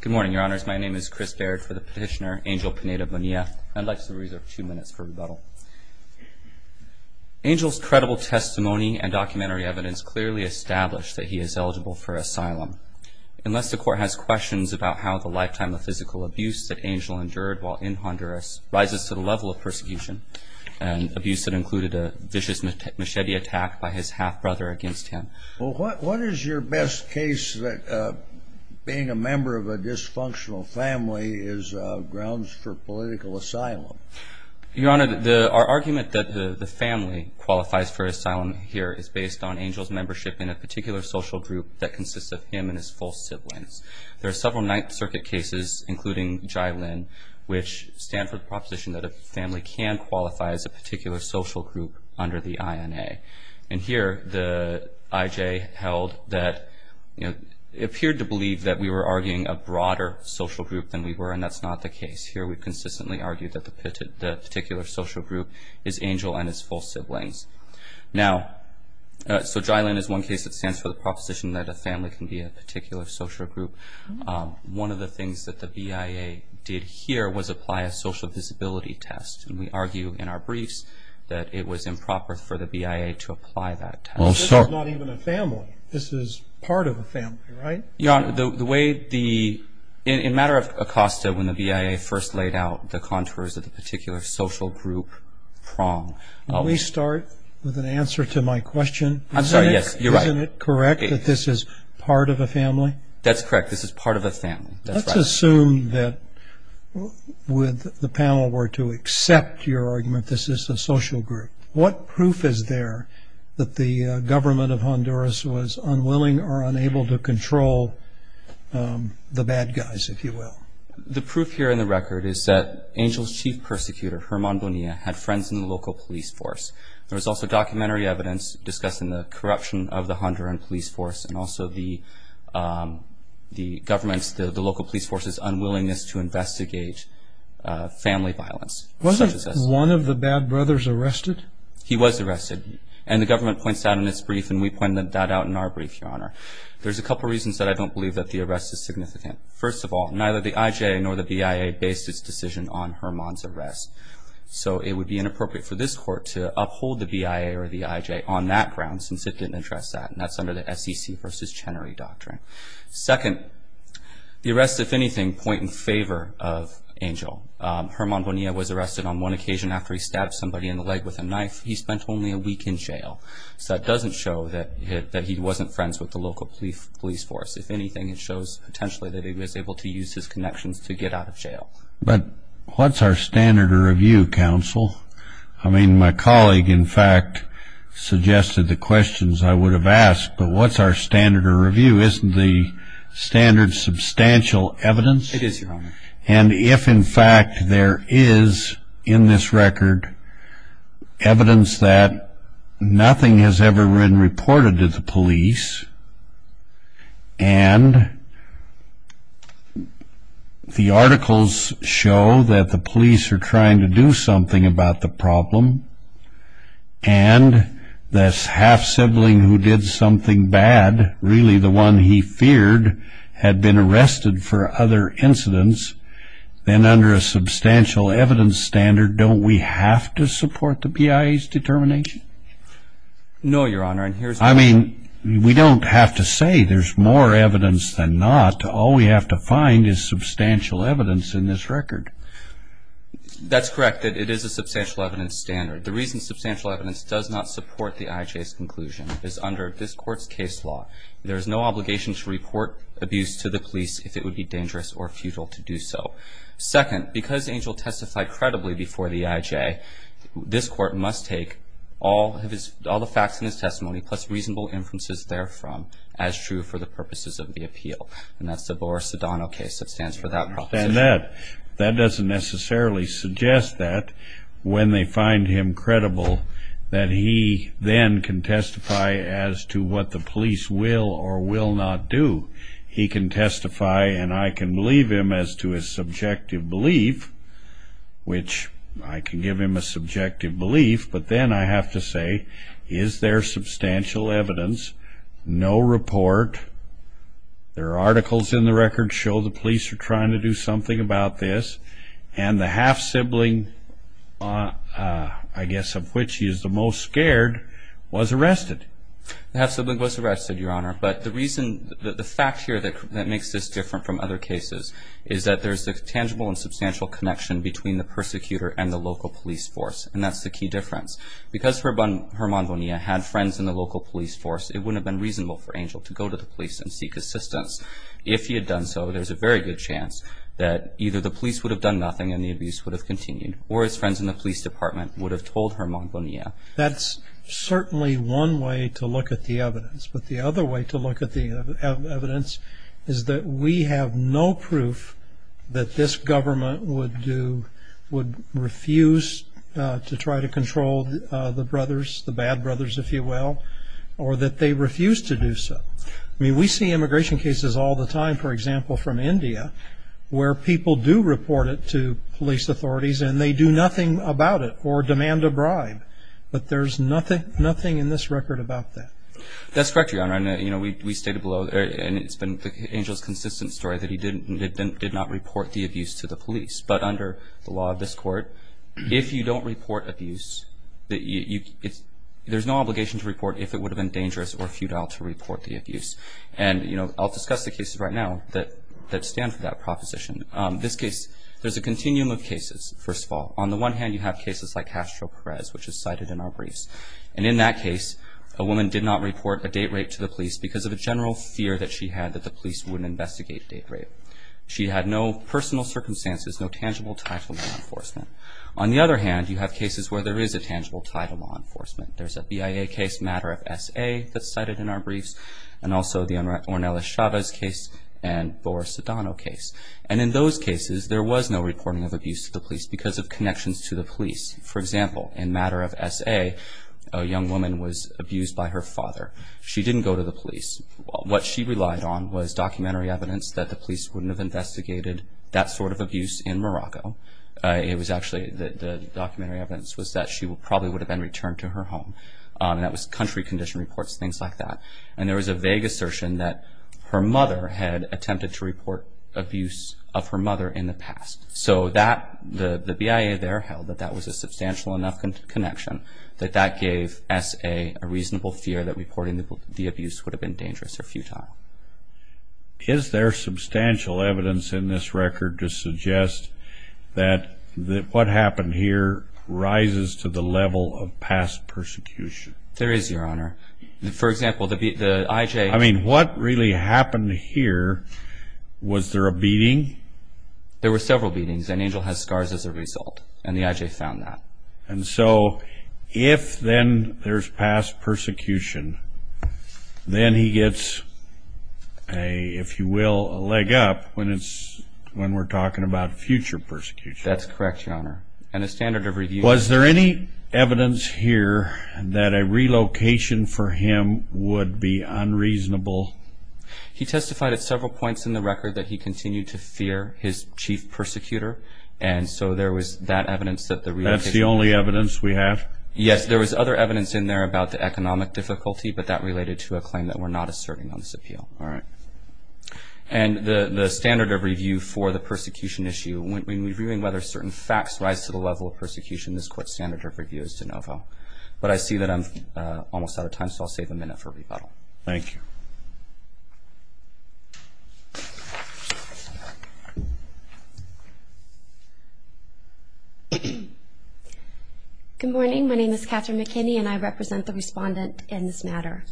Good morning, your honors. My name is Chris Baird for the petitioner Angel Pineda-Bonilla. I'd like to reserve two minutes for rebuttal. Angel's credible testimony and documentary evidence clearly establish that he is eligible for asylum unless the court has questions about how the lifetime of physical abuse that Angel endured while in Honduras rises to the level of persecution and abuse that included a vicious machete attack by his half-brother against him. Well, what is your best case that being a member of a dysfunctional family is grounds for political asylum? Your honor, our argument that the family qualifies for asylum here is based on Angel's membership in a particular social group that consists of him and his full siblings. There are several Ninth Circuit cases, including Jai Lin, which stand for the proposition that a family can qualify as a particular social group under the INA. And here, the IJ held that, you know, it appeared to believe that we were arguing a broader social group than we were, and that's not the case. Here, we consistently argued that the particular social group is Angel and his full siblings. Now, so Jai Lin is one case that stands for the proposition that a family can be a particular social group. One of the things that the BIA did here was apply a social visibility test. And we argue in our briefs that it was improper for the BIA to apply that test. This is not even a family. This is part of a family, right? Your honor, the way the, in matter of Acosta, when the BIA first laid out the contours of the particular social group prong. Let me start with an answer to my question. I'm sorry, yes, you're right. Isn't it correct that this is part of a family? That's correct. This is part of a family. Let's assume that with the panel were to accept your argument, this is a social group. What proof is there that the government of Honduras was unwilling or unable to control the bad guys, if you will? The proof here in the record is that Angel's chief persecutor, Germán Bonilla, had friends in the local police force. There was also documentary evidence discussing the corruption of the Honduran police force and also the government's, the local police force's unwillingness to investigate family violence. Wasn't one of the bad brothers arrested? He was arrested and the government points out in its brief and we pointed that out in our brief, your honor. There's a couple reasons that I don't believe that the arrest is significant. First of all, neither the IJ nor the BIA based its decision on Germán's arrest. So it would be inappropriate for this court to uphold the BIA or the IJ on that ground since it didn't address that and that's under the SEC versus Chenery doctrine. Second, the arrests, if anything, point in favor of Angel. Germán Bonilla was arrested on one occasion after he stabbed somebody in the leg with a knife. He spent only a week in jail. So that doesn't show that he wasn't friends with the local police force. If anything, it shows potentially that he was able to use his connections to get out of jail. But what's our standard of review, counsel? I mean, my colleague, in fact, suggested the questions I would have asked, but what's our standard of review? Isn't the standard substantial evidence? It is, your honor. And if, in fact, there is in this record evidence that nothing has ever been reported to the police and the articles show that the police are trying to do something about the problem and this half-sibling who did something bad, really the one he feared, had been arrested for other incidents, then under a substantial evidence standard, don't we have to support the BIA's determination? No, your honor. I mean, we don't have to say there's more evidence than not. All we have to find is substantial evidence in this record. That's correct. It is a substantial evidence standard. The reason substantial evidence does not support the IJ's conclusion is under this court's case law. There is no obligation to report abuse to the police if it would be dangerous or futile to do so. Second, because Angel testified credibly before the IJ, this court must take all the facts in his testimony plus reasonable inferences therefrom as true for the purposes of the appeal. And that's the Boer-Sedano case that stands for that proposition. That doesn't necessarily suggest that when they find him credible that he then can testify as to what the police will or will not do. He can testify and I can believe him as to his subjective belief, which I can give him a subjective belief, but then I have to say is there substantial evidence? No report. There are articles in the record show the police are trying to do something about this and the half-sibling, I guess of which he is the most scared, was arrested. The half-sibling was arrested, your honor, but the reason the fact here that makes this different from other cases is that there's a tangible and substantial connection between the persecutor and the local police force and that's the key difference. Because Herman Bonilla had friends in the local police force, it wouldn't have been reasonable for Angel to go to the police and seek assistance. If he had done so, there's a very good chance that either the police would have done nothing and the abuse would have continued or his friends in the police department would have told Herman Bonilla. That's certainly one way to look at the evidence, but the other way to look at the evidence is that we have no proof that this government would do, would refuse to try to or that they refuse to do so. I mean, we see immigration cases all the time, for example, from India where people do report it to police authorities and they do nothing about it or demand a bribe, but there's nothing in this record about that. That's correct, your honor, and you know, we stated below and it's been Angel's consistent story that he didn't, did not report the abuse to the police, but under the law of this court, if you don't report abuse, there's no obligation to report if it would have been dangerous or futile to report the abuse. And you know, I'll discuss the cases right now that stand for that proposition. This case, there's a continuum of cases, first of all. On the one hand, you have cases like Castro Perez, which is cited in our briefs, and in that case, a woman did not report a date rape to the police because of a general fear that she had that the police wouldn't investigate date rape. She had no personal circumstances, no tangible ties with law enforcement. On the other hand, you have cases where there is a tangible tie to law enforcement. There's a BIA case, Matter of S.A. that's cited in our briefs, and also the Ornelas Chavez case and Boer-Sedano case. And in those cases, there was no reporting of abuse to the police because of connections to the police. For example, in Matter of S.A., a young woman was abused by her father. She didn't go to the police. What she relied on was documentary evidence that the police wouldn't have investigated that sort of abuse in Morocco. It was actually the documentary evidence was that she probably would have been returned to her home, and that was country condition reports, things like that. And there was a vague assertion that her mother had attempted to report abuse of her mother in the past. So that, the BIA there held that that was a substantial enough connection that that gave S.A. a reasonable fear that reporting the abuse would have been dangerous or futile. Now, is there substantial evidence in this record to suggest that what happened here rises to the level of past persecution? There is, Your Honor. For example, the I.J. I mean, what really happened here, was there a beating? There were several beatings, and Angel has scars as a result, and the I.J. found that. And so, if then there's past persecution, then he gets a, if you will, a leg up when it's, when we're talking about future persecution. That's correct, Your Honor. And the standard of review... Was there any evidence here that a relocation for him would be unreasonable? He testified at several points in the record that he continued to fear his chief persecutor, and so there was that evidence that the relocation... That's the only evidence we have? Yes, there was other evidence in there about the economic difficulty, but that related to a claim that we're not asserting on this appeal. All right. And the standard of review for the persecution issue, when reviewing whether certain facts rise to the level of persecution, this Court's standard of review is de novo. But I see that I'm almost out of time, so I'll save a minute for rebuttal. Thank you. Good morning. My name is Catherine McKinney, and I represent the respondent in this matter.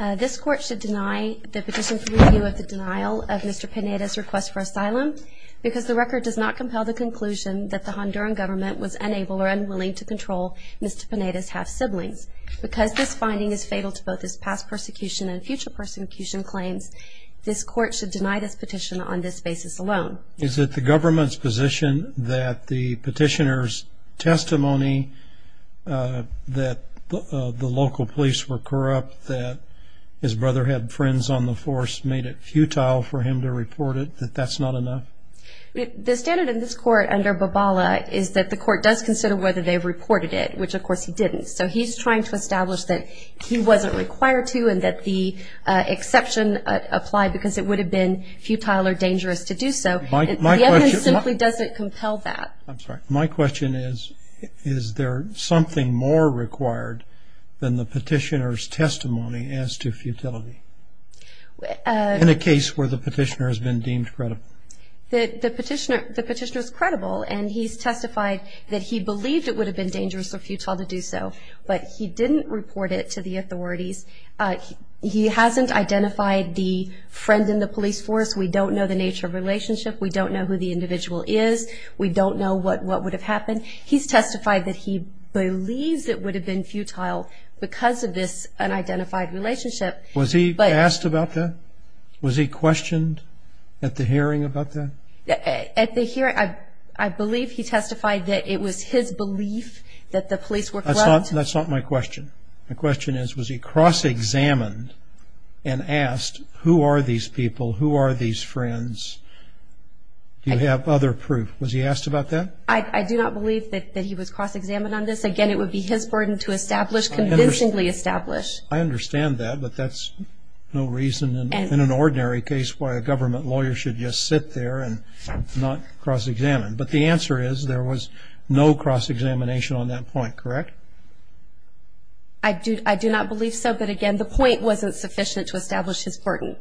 This Court should deny the petition for review of the denial of Mr. Pineda's request for asylum because the record does not compel the conclusion that the Honduran government was unable or unwilling to control Mr. Pineda's half-siblings. Because this finding is fatal to both his past persecution and future persecution claims, this Court should deny this petition on this basis alone. Is it the government's position that the petitioner's testimony that the local police were corrupt, that his brother had friends on the force, made it futile for him to report it, that that's not enough? The standard in this Court under Babala is that the Court does consider whether they've reported it, which of course he didn't. So he's trying to establish that he wasn't required to, and that the exception applied because it would have been futile or dangerous to do so. The evidence simply doesn't compel that. I'm sorry. My question is, is there something more required than the petitioner's testimony as to futility in a case where the petitioner has been deemed credible? The petitioner is credible, and he's testified that he believed it would have been dangerous or futile to do so, but he didn't report it to the authorities. He hasn't identified the friend in the police force. We don't know the nature of the relationship. We don't know who the individual is. We don't know what would have happened. He's testified that he believes it would have been futile because of this unidentified relationship. Was he asked about that? Was he questioned at the hearing about that? At the hearing, I believe he testified that it was his belief that the police were corrupt. That's not my question. My question is, was he cross-examined and asked, who are these people? Who are these friends? Do you have other proof? Was he asked about that? I do not believe that he was cross-examined on this. Again, it would be his burden to establish, convincingly establish. I understand that, but that's no reason in an ordinary case why a government lawyer should just sit there and not cross-examine. But the answer is there was no cross-examination on that point, correct? I do not believe so. But again, the point wasn't sufficient to establish his burden.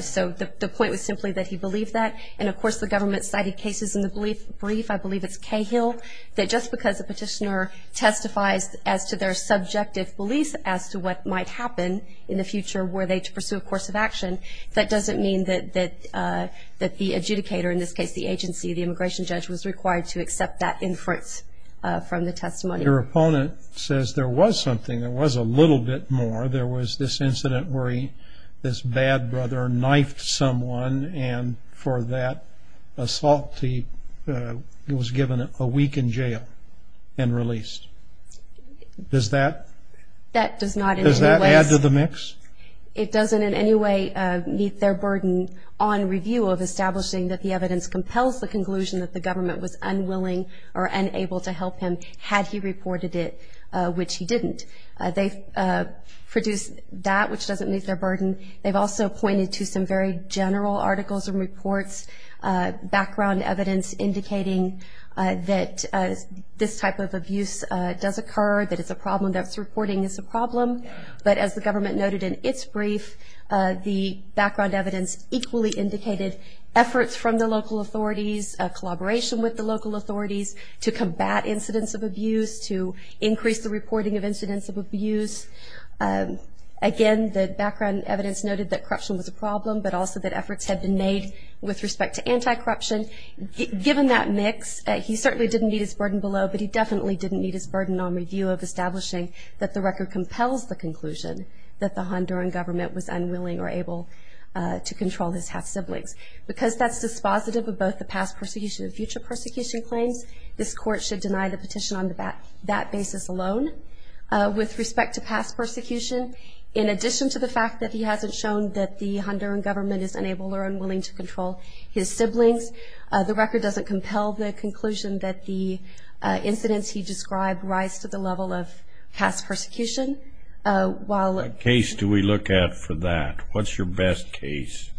So the point was simply that he believed that. And of course, the government cited cases in the brief. I believe it's Cahill that just because a petitioner testifies as to their subjective beliefs as to what might happen in the future were they to pursue a course of action, that doesn't mean that the adjudicator, in this case, the agency, the immigration judge, was required to There was a little bit more. There was this incident where this bad brother knifed someone and for that assault, he was given a week in jail and released. Does that add to the mix? It doesn't in any way meet their burden on review of establishing that the evidence compels the conclusion that the government was unwilling or unable to help him had he reported it, which he didn't. They've produced that, which doesn't meet their burden. They've also pointed to some very general articles and reports, background evidence indicating that this type of abuse does occur, that it's a problem, that reporting is a problem. But as the government noted in its brief, the background evidence equally indicated efforts from the local authorities, collaboration with the local authorities, to combat incidents of abuse, to increase the reporting of incidents of abuse. Again, the background evidence noted that corruption was a problem, but also that efforts had been made with respect to anti-corruption. Given that mix, he certainly didn't meet his burden below, but he definitely didn't meet his burden on review of establishing that the record compels the conclusion that the Honduran government was unwilling or able to control his half-siblings. Because that's positive of both the past persecution and future persecution claims, this Court should deny the petition on that basis alone. With respect to past persecution, in addition to the fact that he hasn't shown that the Honduran government is unable or unwilling to control his siblings, the record doesn't compel the conclusion that the incidents he described rise to the level of past persecution. While... What case do we look at for that? What's your best case?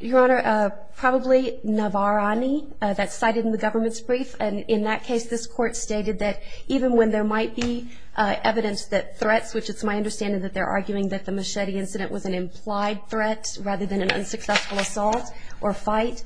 Your Honor, probably Navarani. That's cited in the government's brief. And in that case, this Court stated that even when there might be evidence that threats, which it's my understanding that they're arguing that the machete incident was an implied threat rather than an unsuccessful assault or fight,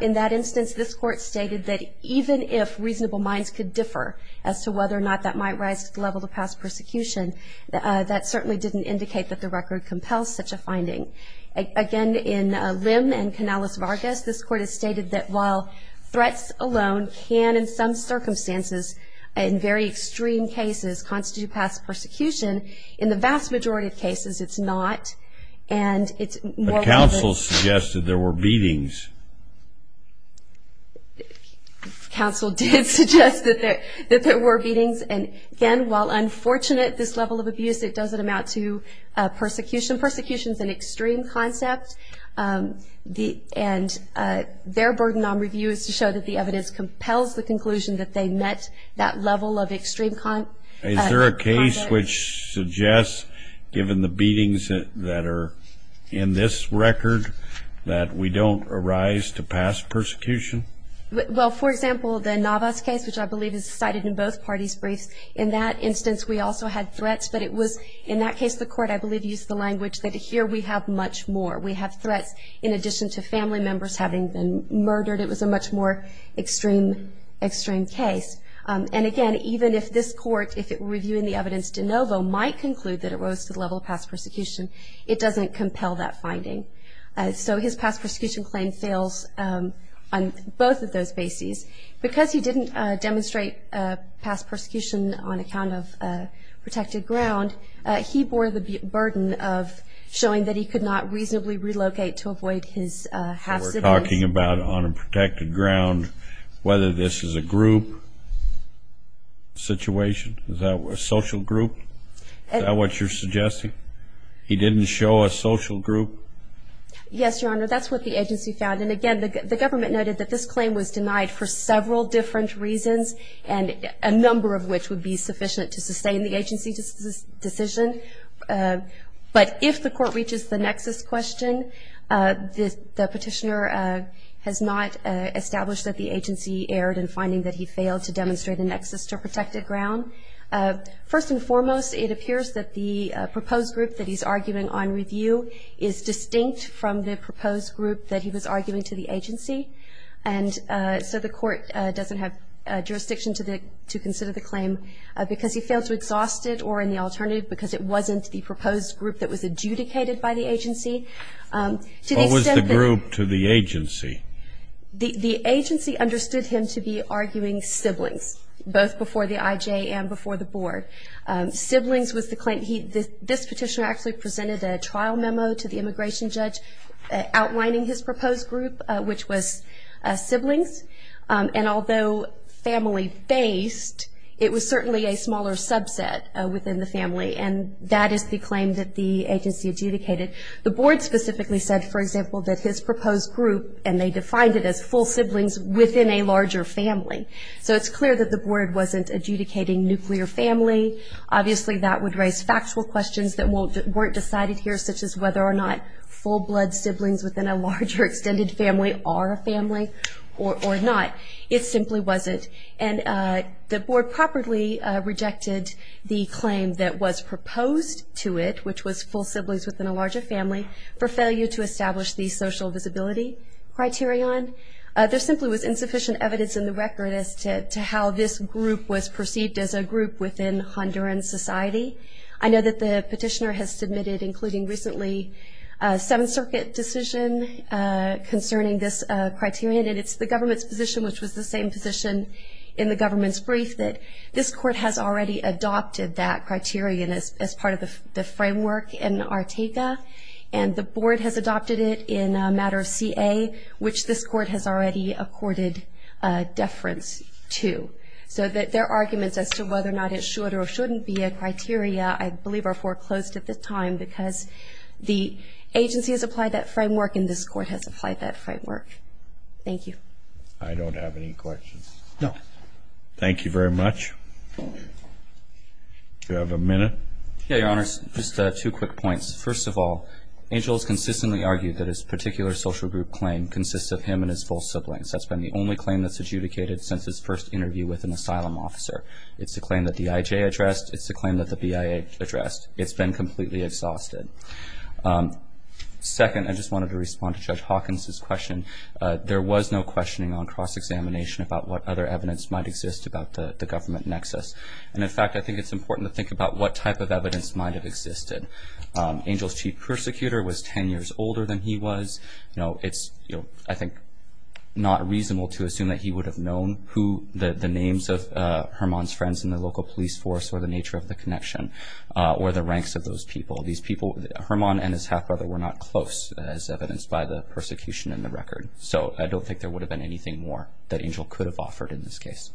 in that instance this Court stated that even if reasonable minds could differ as to whether or not that might rise to the level of past persecution, that certainly didn't indicate that the record compels such a finding. Again, in Lim and Canales-Vargas, this Court has stated that while threats alone can, in some circumstances, in very extreme cases constitute past persecution, in the vast majority of cases it's not. And it's more relevant... But counsel suggested there were beatings. Counsel did suggest that there were beatings. And again, while unfortunate, this level of past persecution... Persecution is an extreme concept. And their burden on review is to show that the evidence compels the conclusion that they met that level of extreme conduct. Is there a case which suggests, given the beatings that are in this record, that we don't arise to past persecution? Well, for example, the Navas case, which I believe is cited in both parties' briefs, in that instance we also had threats. But it was, in that case, the Court I believe used the language that here we have much more. We have threats in addition to family members having been murdered. It was a much more extreme case. And again, even if this Court, if it were reviewing the evidence de novo, might conclude that it rose to the level of past persecution, it doesn't compel that finding. So his past persecution claim fails on both of those bases. Because he didn't demonstrate past persecution on account of protected ground, he bore the burden of showing that he could not reasonably relocate to avoid his half-siblings. We're talking about on a protected ground, whether this is a group situation? Is that a social group? Is that what you're suggesting? He didn't show a social group? Yes, Your Honor. That's what the agency found. And again, the government noted that this was for several different reasons, and a number of which would be sufficient to sustain the agency's decision. But if the Court reaches the nexus question, the Petitioner has not established that the agency erred in finding that he failed to demonstrate a nexus to protected ground. First and foremost, it appears that the proposed group that he's arguing on review is distinct from the proposed group that he was arguing to the agency. And so the Court doesn't have jurisdiction to consider the claim because he failed to exhaust it or in the alternative because it wasn't the proposed group that was adjudicated by the agency. What was the group to the agency? The agency understood him to be arguing siblings, both before the IJ and before the Board. Siblings was the claim. This Petitioner actually presented a trial memo to the immigration judge outlining his proposed group, which was siblings. And although family-based, it was certainly a smaller subset within the family, and that is the claim that the agency adjudicated. The Board specifically said, for example, that his proposed group, and they defined it as full siblings within a larger family. So it's clear that the Board wasn't adjudicating nuclear family. Obviously, that would raise factual questions that weren't decided here, such as whether or not full-blood siblings within a larger extended family are a family or not. It simply wasn't. And the Board properly rejected the claim that was proposed to it, which was full siblings within a larger family, for failure to establish the social visibility criterion. There simply was insufficient evidence in the record as to how this group was perceived as a group within Honduran society. I know that the Petitioner has submitted, including recently, a Seventh Circuit decision concerning this criterion, and it's the government's position, which was the same position in the government's brief, that this Court has already adopted that criterion as part of the framework in ARTECA, and the Board has adopted it in a matter of CA, which this Court has already accorded deference to. So there are arguments as to whether or not it should or shouldn't be a criteria, I believe are foreclosed at this time, because the agency has applied that framework and this Court has applied that framework. Thank you. I don't have any questions. No. Thank you very much. Do I have a minute? Yeah, Your Honor. Just two quick points. First of all, Angel has consistently argued that his particular social group claim consists of him and his full siblings. That's been the only claim that's adjudicated since his first interview with an asylum officer. It's a claim that the IJ addressed. It's a claim that the BIA addressed. It's been completely exhausted. Second, I just wanted to respond to Judge Hawkins' question. There was no questioning on cross-examination about what other evidence might exist about the government nexus. And in fact, I think it's important to think about what type of evidence might have existed. Angel's chief persecutor was ten years older than he was. You know, it's, you know, I think not reasonable to assume that he would have known who the names of Hermon's friends in the local police force or the nature of the connection or the ranks of those people. These people, Hermon and his half-brother, were not close as evidenced by the persecution in the record. So I don't think there would have been anything more that Angel could have offered in this case.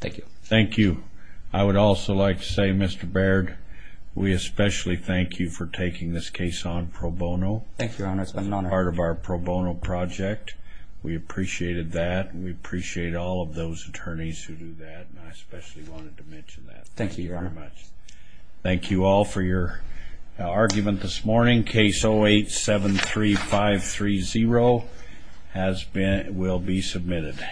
Thank you. Thank you. I would also like to say, Mr. Baird, we especially thank you for taking this case on pro bono. Thank you, Your Honor. It's been an honor. It's been part of our pro bono project. We appreciated that, and we appreciate all of those attorneys who do that, and I especially wanted to mention that. Thank you, Your Honor. Thank you very much. Thank you all for your argument this morning. Case 08-73530 has been, will be submitted.